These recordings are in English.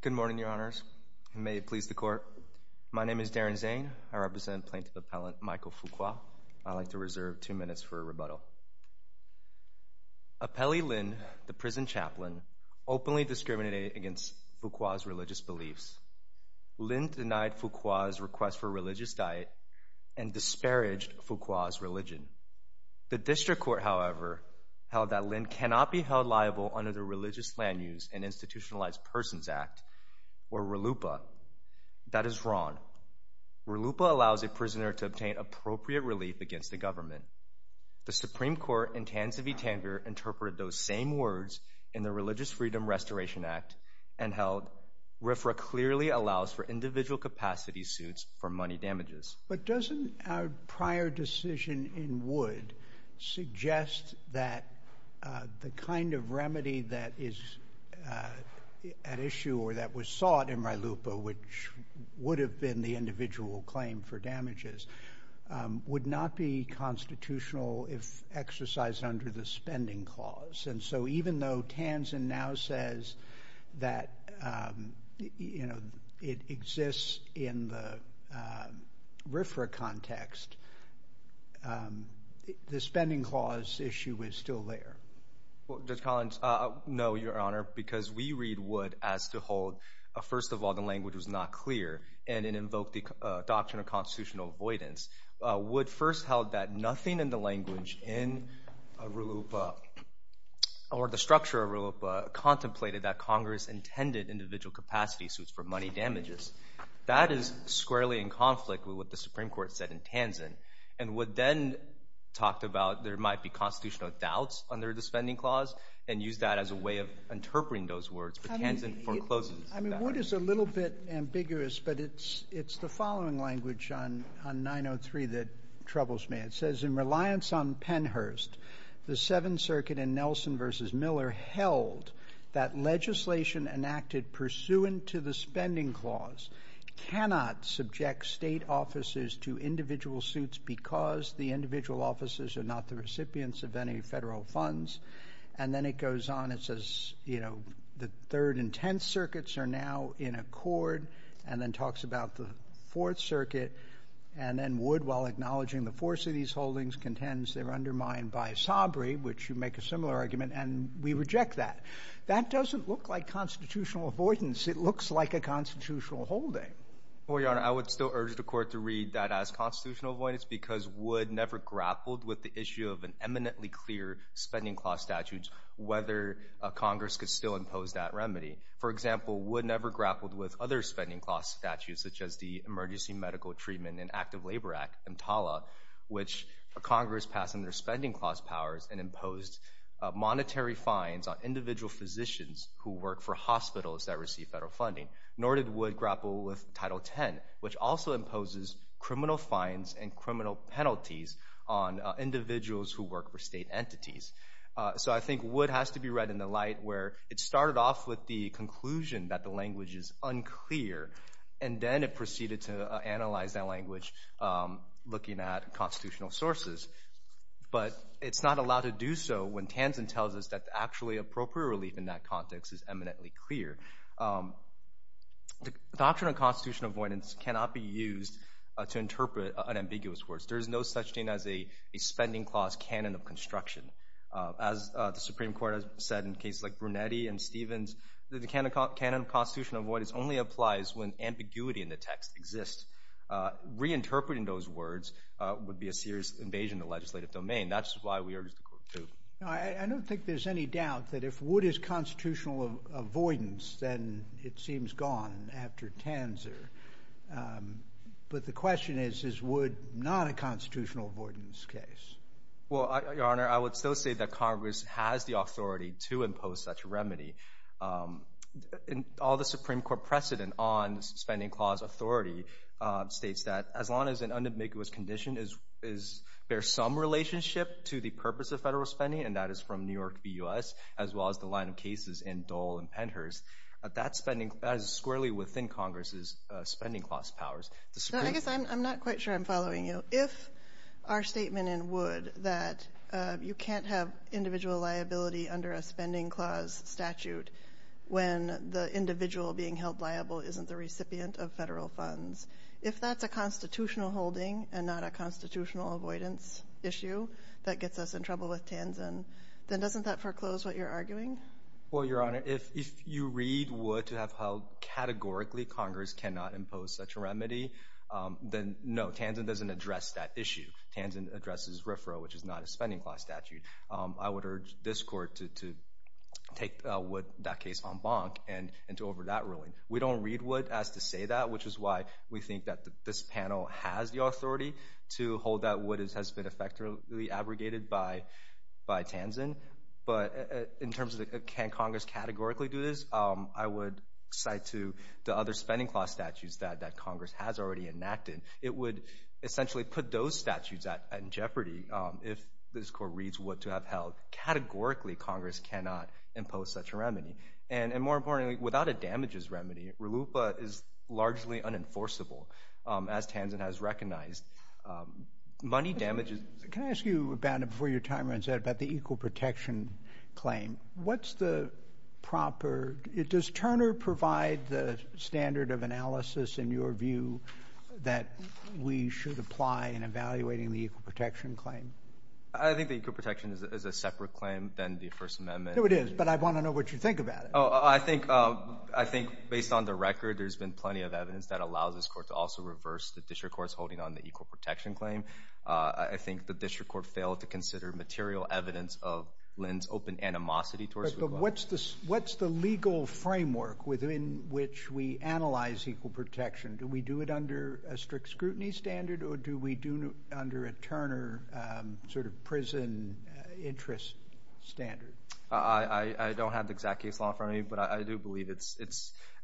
Good morning, Your Honors, and may it please the Court. My name is Darren Zane. I represent Plaintiff Appellant Michael Fuqua. I'd like to reserve two minutes for a rebuttal. Appellee Lin, the prison chaplain, openly discriminated against Fuqua's religious beliefs. Lin denied Fuqua's request for a religious diet and disparaged Fuqua's religion. The District Court, however, held that Lin cannot be held liable under the Religious Land Use and Institutionalized Persons Act, or RLUPA. That is wrong. RLUPA allows a prisoner to obtain appropriate relief against the government. The Supreme Court in Tanzania-Tanzania interpreted those same words in the Religious Freedom Restoration Act and held RFRA clearly allows for individual capacity suits for money damages. But doesn't our prior decision in Wood suggest that the kind of remedy that is at issue or that was sought in RLUPA, which would have been the individual claim for damages, would not be constitutional if exercised under the spending clause? And so even though Tanzan now says that, you know, it exists in the RFRA context, the spending clause issue is still there. Judge Collins, no, Your Honor, because we read Wood as to hold, first of all, the language was not clear and it invoked the doctrine of constitutional avoidance. Wood first held that nothing in the language in RLUPA or the structure of RLUPA contemplated that Congress intended individual capacity suits for money damages. That is squarely in conflict with what the Supreme Court said in Tanzan. And Wood then talked about there might be constitutional doubts under the spending clause and used that as a way of interpreting those words. But Tanzan forecloses. I mean, Wood is a little bit ambiguous, but it's the following language on 903 that troubles me. It says, in reliance on Pennhurst, the Seventh Circuit in Nelson v. Miller held that legislation enacted pursuant to the spending clause cannot subject state offices to individual suits because the individual offices are not the recipients of any federal funds. And then it goes on. It says, you know, the Third and Tenth Circuits are now in accord. And then talks about the Fourth Circuit. And then Wood, while acknowledging the force of these holdings, contends they were undermined by Sabri, which you make a similar argument, and we reject that. That doesn't look like constitutional avoidance. It looks like a constitutional holding. Well, Your Honor, I would still urge the Court to read that as constitutional avoidance because Wood never grappled with the issue of an eminently clear spending clause statute, whether Congress could still impose that remedy. For example, Wood never grappled with other spending clause statutes, such as the Emergency Medical Treatment and Active Labor Act, EMTALA, which Congress passed under spending clause powers and imposed monetary fines on individual physicians who work for hospitals that receive federal funding. Nor did Wood grapple with Title X, which also imposes criminal fines and criminal penalties on individuals who work for state entities. So I think Wood has to be read in the light where it started off with the conclusion that the language is unclear, and then it proceeded to analyze that language looking at constitutional sources. But it's not allowed to do so when Tanzen tells us that actually appropriate relief in that context is eminently clear. The doctrine of constitutional avoidance cannot be used to interpret unambiguous words. There's no such thing as a spending clause canon of construction. As the Supreme Court has said in cases like Brunetti and Stevens, the canon of constitutional avoidance only applies when ambiguity in the text exists. Reinterpreting those words would be a serious invasion of the legislative domain. That's why we urge the Court to do it. I don't think there's any doubt that if Wood is constitutional avoidance, then it seems gone after Tanzer. But the question is, is Wood not a constitutional avoidance case? Well, Your Honor, I would still say that Congress has the authority to impose such a remedy. All the Supreme Court precedent on spending clause authority states that as long as an individual being held liable isn't the recipient of federal funds. If that's a constitutional holding and not a constitutional avoidance issue, that gets us in trouble with Tanzer. Then doesn't that foreclose what you're arguing? Well, Your Honor, if you read Wood to have held categorically Congress cannot impose such a remedy, then no, Tanzer doesn't address that issue. Tanzer addresses RFRA, which is not a spending clause statute. I would urge this Court to take that case en banc and to over that ruling. We don't read Wood as to say that, which is why we think that this panel has the authority to hold that Wood has been effectively abrogated by Tanzer. But in terms of can Congress categorically do this, I would cite to the other spending clause statutes that Congress has already enacted. It would essentially put those statutes in jeopardy if this Court reads Wood to have held categorically Congress cannot impose such a remedy. And more importantly, without a damages remedy, RLUIPA is largely unenforceable, as Tanzer has recognized. Money damages... Can I ask you, before your time runs out, about the equal protection claim? What's the proper... Does Turner provide the standard of analysis, in your view, that we should apply in evaluating the equal protection claim? I think the equal protection is a separate claim than the First Amendment. No, it is, but I want to know what you think about it. I think, based on the record, there's been plenty of evidence that allows this Court to also reverse the district courts holding on the equal protection claim. I think the district court failed to consider material evidence of Lynn's open animosity towards Wood. But what's the legal framework within which we analyze equal protection? Do we do it under a strict scrutiny standard, or do we do it under a Turner sort of prison interest standard? I don't have the exact case law in front of me, but I do believe it's...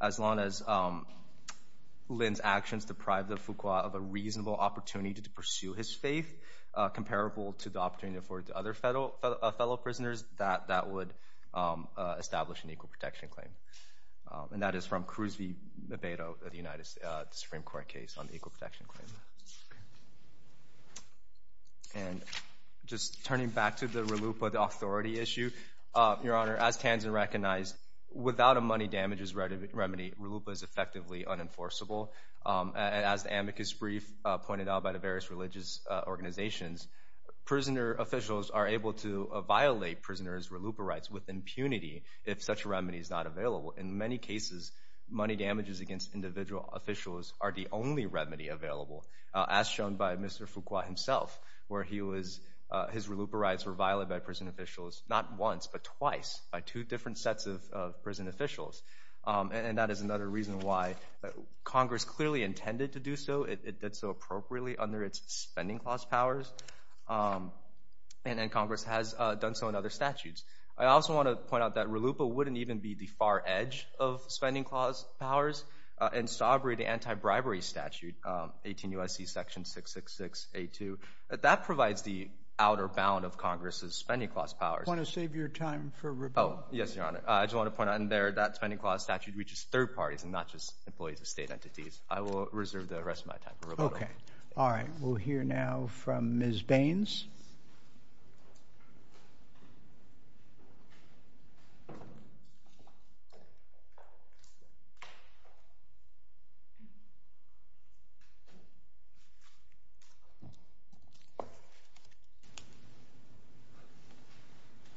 As long as Lynn's actions deprive the Fuqua of a reasonable opportunity to pursue his faith, comparable to the opportunity afforded to other fellow prisoners, that would establish an equal protection claim. And that is from Cruz v. Mebedo of the Supreme Court case on the equal protection claim. And just turning back to the RLUIPA, the authority issue, Your Honor, as Tanzan recognized, without a money damages remedy, RLUIPA is effectively unenforceable. As the amicus brief pointed out by the various religious organizations, prisoner officials are able to violate prisoners' RLUIPA rights with impunity if such a remedy is not available. In many cases, money damages against individual officials are the only remedy available, as shown by Mr. Fuqua himself, where his RLUIPA rights were violated by prison officials not And that is another reason why Congress clearly intended to do so, it did so appropriately under its spending clause powers, and Congress has done so in other statutes. I also want to point out that RLUIPA wouldn't even be the far edge of spending clause powers. In Sobre, the anti-bribery statute, 18 U.S.C. section 666 A.2, that provides the outer bound of Congress's spending clause powers. I want to save your time for rebuttal. Yes, Your Honor. I just want to point out in there that spending clause statute reaches third parties and not just employees of state entities. I will reserve the rest of my time for rebuttal. Okay. All right. We'll hear now from Ms. Baines.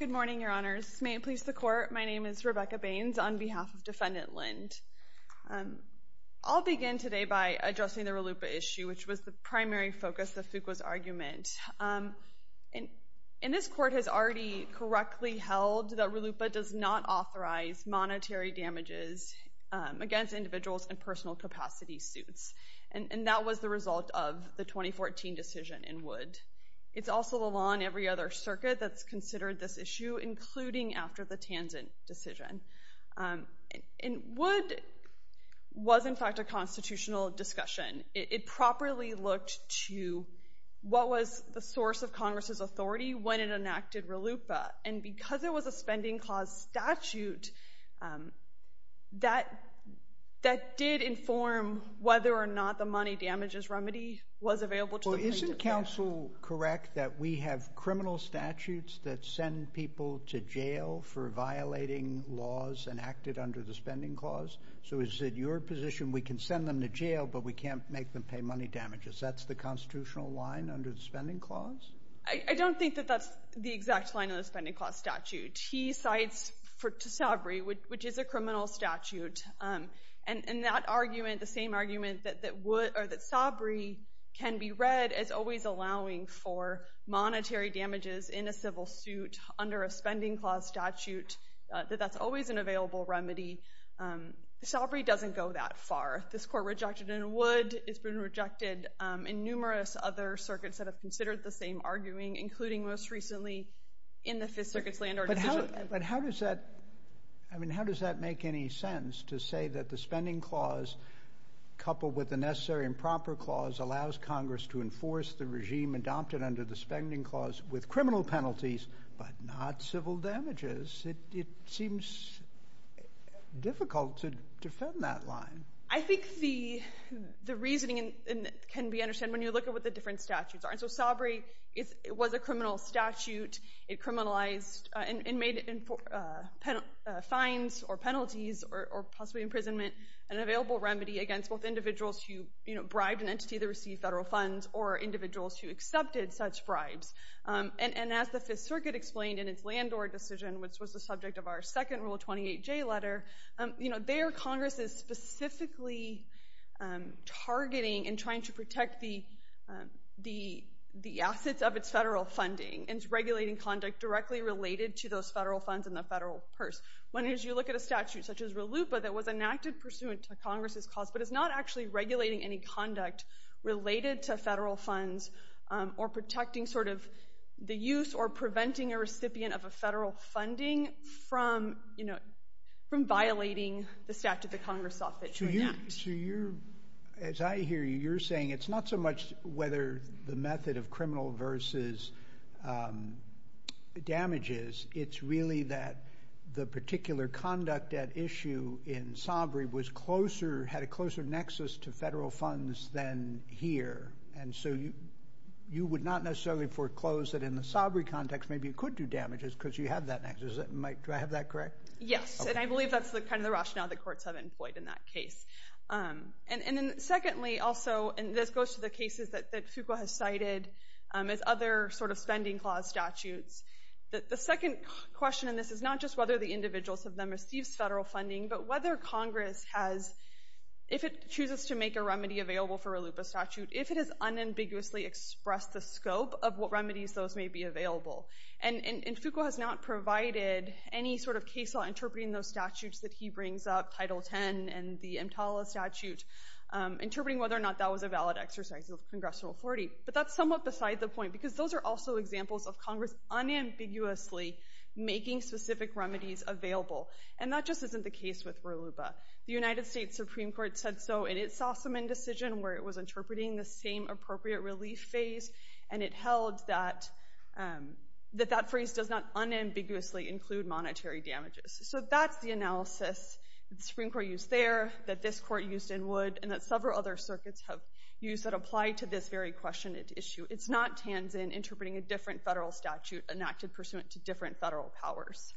Good morning, Your Honors. May it please the Court. My name is Rebecca Baines on behalf of Defendant Lind. I'll begin today by addressing the RLUIPA issue, which was the primary focus of Fuqua's argument. And this Court has already correctly held that RLUIPA does not authorize monetary damages against individuals in personal capacity suits. And that was the result of the 2014 decision in Wood. It's also the law in every other circuit that's considered this issue, including after the Hansen decision. And Wood was, in fact, a constitutional discussion. It properly looked to what was the source of Congress's authority when it enacted RLUIPA. And because it was a spending clause statute, that did inform whether or not the money damages remedy was available to the plaintiff. Well, isn't counsel correct that we have criminal statutes that send people to jail for violating laws enacted under the spending clause? So is it your position we can send them to jail, but we can't make them pay money damages? That's the constitutional line under the spending clause? I don't think that that's the exact line of the spending clause statute. He cites Sabri, which is a criminal statute. And that argument, the same argument that Sabri can be read as always allowing for monetary that that's always an available remedy, Sabri doesn't go that far. This court rejected in Wood. It's been rejected in numerous other circuits that have considered the same arguing, including most recently in the Fifth Circuit's land order decision. But how does that make any sense to say that the spending clause, coupled with the necessary and proper clause, allows Congress to enforce the regime adopted under the spending clause with criminal penalties, but not civil damages? It seems difficult to defend that line. I think the reasoning can be understood when you look at what the different statutes are. And so Sabri, it was a criminal statute. It criminalized and made fines or penalties or possibly imprisonment an available remedy against both individuals who bribed an entity that received federal funds or individuals who accepted such bribes. And as the Fifth Circuit explained in its land order decision, which was the subject of our second Rule 28J letter, you know, there Congress is specifically targeting and trying to protect the assets of its federal funding, and it's regulating conduct directly related to those federal funds in the federal purse. When as you look at a statute such as RLUIPA that was enacted pursuant to Congress's cause, but it's not actually regulating any conduct related to federal funds or protecting sort of the use or preventing a recipient of a federal funding from, you know, from violating the statute that Congress offered to enact. So you're, as I hear you, you're saying it's not so much whether the method of criminal versus damages, it's really that the particular conduct at issue in Sabri was closer, had a closer nexus to federal funds than here. And so you would not necessarily foreclose that in the Sabri context, maybe it could do damages because you have that nexus. Does that make, do I have that correct? Yes. And I believe that's kind of the rationale that courts have employed in that case. And then secondly, also, and this goes to the cases that Fuqua has cited as other sort of spending clause statutes, that the second question in this is not just whether the individuals of them receive federal funding, but whether Congress has, if it chooses to make a remedy available for a LUPA statute, if it has unambiguously expressed the scope of what remedies those may be available. And Fuqua has not provided any sort of case law interpreting those statutes that he brings up, Title 10 and the EMTALA statute, interpreting whether or not that was a valid exercise of congressional authority. But that's somewhat beside the point, because those are also examples of Congress unambiguously making specific remedies available. And that just isn't the case with RUBA. The United States Supreme Court said so in its Sossaman decision where it was interpreting the same appropriate relief phase. And it held that, that that phrase does not unambiguously include monetary damages. So that's the analysis that the Supreme Court used there, that this court used in Wood, and that several other circuits have used that apply to this very question and issue. It's not Tanzan interpreting a different federal statute enacted pursuant to different federal powers.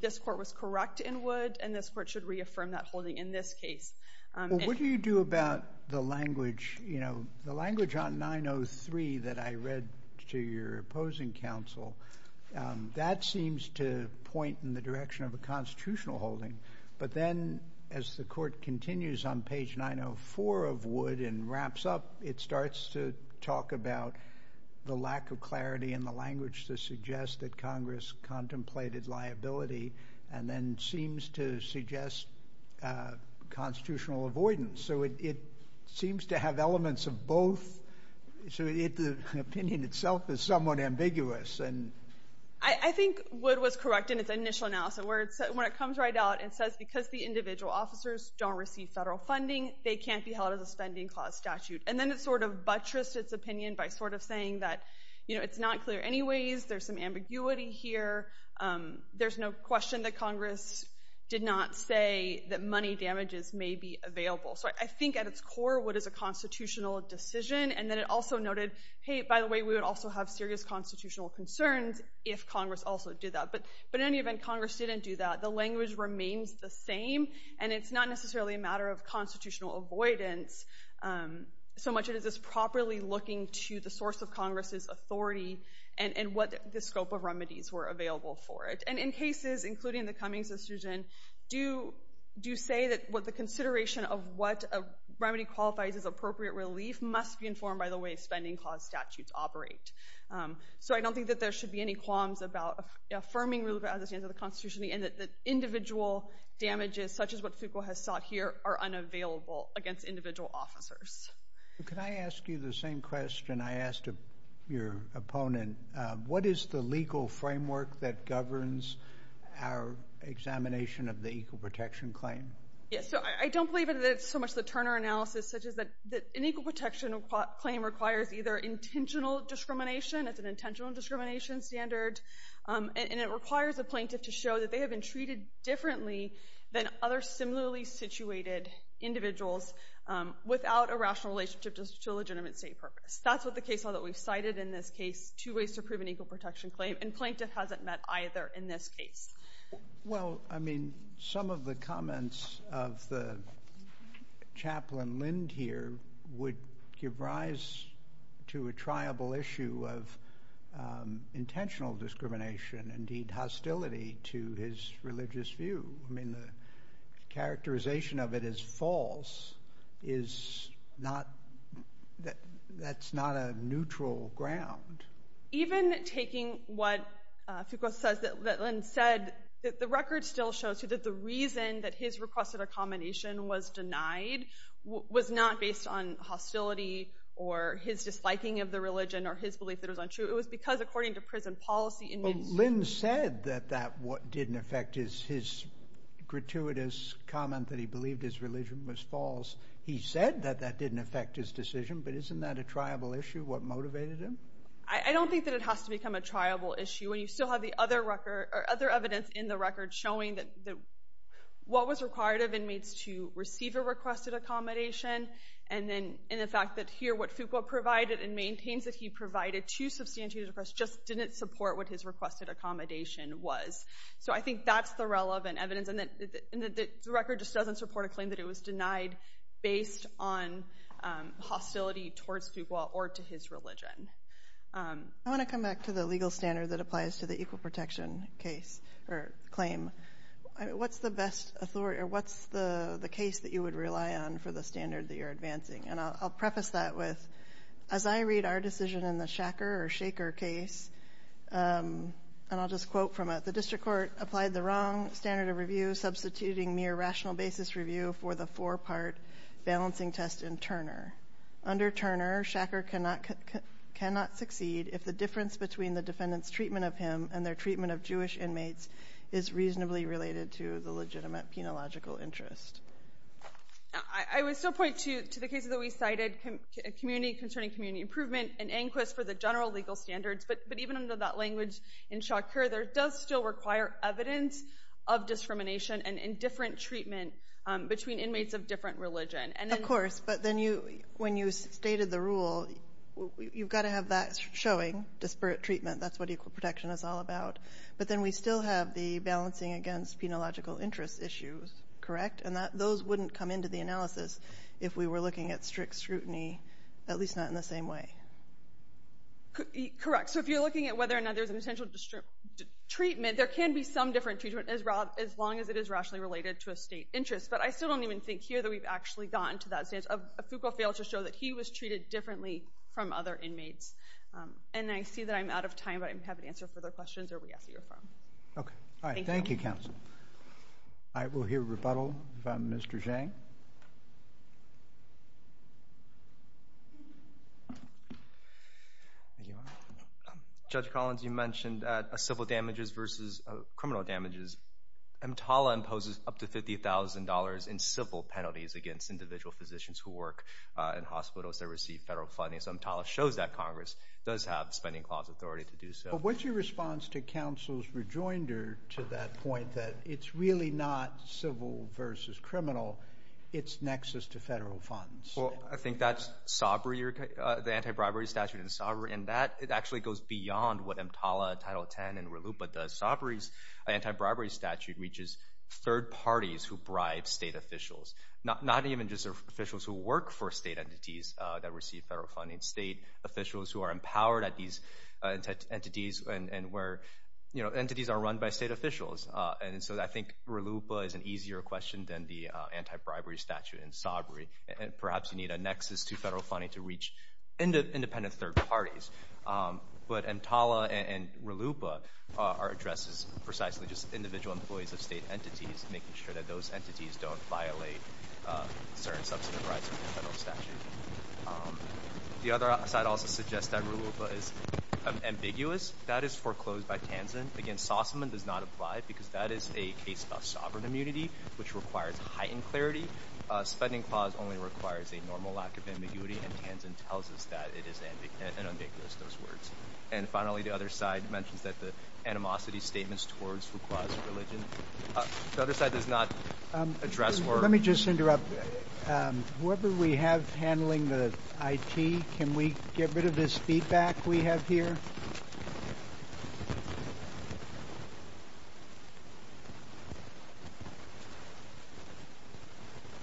This court was correct in Wood, and this court should reaffirm that holding in this case. And. Well, what do you do about the language, you know, the language on 903 that I read to your opposing counsel, that seems to point in the direction of a constitutional holding. But then, as the court continues on page 904 of Wood and wraps up, it starts to talk about the lack of clarity in the language to suggest that Congress contemplated liability and then seems to suggest constitutional avoidance. So it, it seems to have elements of both. So it, the opinion itself is somewhat ambiguous. And. I, I think Wood was correct in its initial analysis where it, when it comes right out, it says because the individual officers don't receive federal funding, they can't be held as a spending clause statute. And then it sort of buttressed its opinion by sort of saying that, you know, it's not clear anyways, there's some ambiguity here, there's no question that Congress did not say that money damages may be available. So I, I think at its core, what is a constitutional decision? And then it also noted, hey, by the way, we would also have serious constitutional concerns if Congress also did that. But, but in any event, Congress didn't do that. The language remains the same, and it's not necessarily a matter of constitutional avoidance so much as it's properly looking to the source of Congress's authority and, and what the scope of remedies were available for it. And in cases, including the Cummings decision, do, do you say that what the consideration of what a remedy qualifies as appropriate relief must be informed by the way spending clause statutes operate? So I don't think that there should be any qualms about affirming relief as it stands in the constitution, and that, that individual damages, such as what Fuqua has sought here, are unavailable against individual officers. Can I ask you the same question I asked your opponent? What is the legal framework that governs our examination of the equal protection claim? Yes, so I, I don't believe that it's so much the Turner analysis such as that, that an equal protection claim requires either intentional discrimination, it's an intentional discrimination standard, and, and it requires a plaintiff to show that they have been treated differently than other similarly situated individuals without a rational relationship to, to a legitimate state purpose. That's what the case law that we've cited in this case, two ways to prove an equal protection claim, and plaintiff hasn't met either in this case. Well, I mean, some of the comments of the Chaplain Lind here would give rise to a triable issue of intentional discrimination, indeed, hostility to his religious view. I mean, the characterization of it as false is not, that, that's not a neutral ground. Even taking what Fuqua says, that Lind said, that the record still shows you that the reason that his requested accommodation was denied was not based on hostility or his disliking of the religion or his belief that it was untrue. It was because, according to prison policy, inmates... Well, Lind said that, that what didn't affect his, his gratuitous comment that he believed his religion was false. He said that that didn't affect his decision, but isn't that a triable issue, what motivated him? I, I don't think that it has to become a triable issue, and you still have the other record, or other evidence in the record showing that, that what was required of inmates to receive a requested accommodation, and then, and the fact that here what Fuqua provided and maintains that he provided two substantiated requests just didn't support what his requested accommodation was. So, I think that's the relevant evidence, and that, that the record just doesn't support a claim that it was denied based on hostility towards Fuqua or to his religion. I want to come back to the legal standard that applies to the equal protection case, or claim. I mean, what's the best authority, or what's the, the case that you would rely on for the standard that you're advancing? And I'll, I'll preface that with, as I read our decision in the Shacker or Shaker case, and I'll just quote from it, the district court applied the wrong standard of review, substituting mere rational basis review for the four-part balancing test in Turner. Under Turner, Shacker cannot, cannot succeed if the difference between the defendant's treatment of him and their treatment of Jewish inmates is reasonably related to the legitimate penological interest. I, I would still point to, to the case that we cited, community, concerning community improvement and inquest for the general legal standards, but, but even under that language in Shaker, there does still require evidence of discrimination and indifferent treatment between inmates of different religion, and then... Of course, but then you, when you stated the rule, you've got to have that showing, disparate treatment, that's what equal protection is all about. But then we still have the balancing against penological interest issues, correct? And that, those wouldn't come into the analysis if we were looking at strict scrutiny, at least not in the same way. Correct. So if you're looking at whether or not there's a potential treatment, there can be some different treatment as long as it is rationally related to a state interest. But I still don't even think here that we've actually gotten to that stage. Foucault failed to show that he was treated differently from other inmates. And I see that I'm out of time, but I'm happy to answer further questions or re-ask you a question. Okay. All right. Thank you, counsel. I will hear rebuttal from Mr. Zhang. Judge Collins, you mentioned civil damages versus criminal damages. EMTALA imposes up to $50,000 in civil penalties against individual physicians who work in hospitals that receive federal funding. So EMTALA shows that Congress does have spending clause authority to do so. What's your response to counsel's rejoinder to that point, that it's really not civil versus criminal, it's nexus to federal funds? Well, I think that's the anti-bribery statute. And that actually goes beyond what EMTALA, Title 10, and RELU, but the anti-bribery statute reaches third parties who bribe state officials, not even just officials who work for state entities that receive federal funding, state officials who are empowered at these entities and where, you know, entities are run by state officials. And so I think RELU is an easier question than the anti-bribery statute in SABRI. And perhaps you need a nexus to federal funding to reach independent third parties. But EMTALA and RELU are addressed as precisely just individual employees of state entities, making sure that those entities don't violate certain substantive rights of the federal statute. The other side also suggests that RELU is ambiguous. That is foreclosed by TANZAN. Again, SOSAMAN does not apply because that is a case of sovereign immunity, which requires heightened clarity. A spending clause only requires a normal lack of ambiguity, and TANZAN tells us that it is an ambiguous, those words. And finally, the other side mentions that the animosity statements towards Foucault's religion. The other side does not address or... We're handling the IT. Can we get rid of this feedback we have here?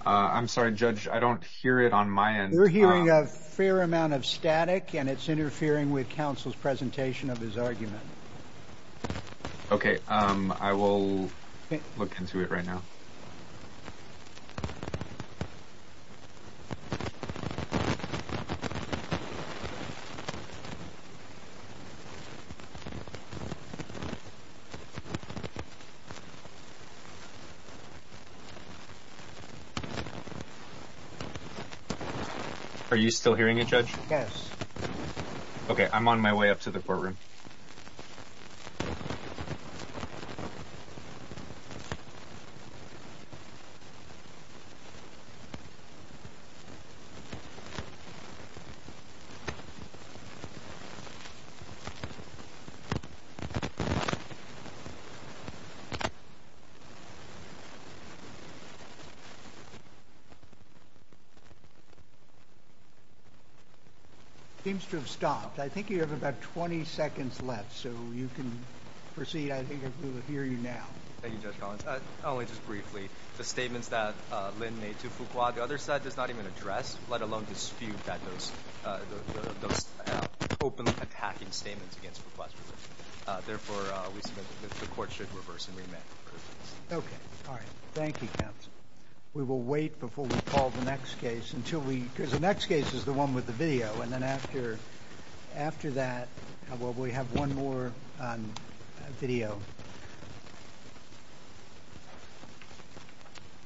I'm sorry, Judge. I don't hear it on my end. We're hearing a fair amount of static, and it's interfering with counsel's presentation of his argument. Okay. I will look into it right now. Are you still hearing it, Judge? Yes. Okay. I'm on my way up to the courtroom. It seems to have stopped. I think you have about 20 seconds left, so you can proceed. I think we will hear you now. Thank you, Judge Collins. Only just briefly. The statements that Lynn made to Foucault, the other side does not even address, let alone dispute those openly attacking statements against Foucault's religion. Therefore, we submit that the court should reverse and remand the verdict. Okay. All right. Thank you, counsel. We will wait before we call the next case until we... Because the next case is the one with the video. And then after that, we'll have one more video.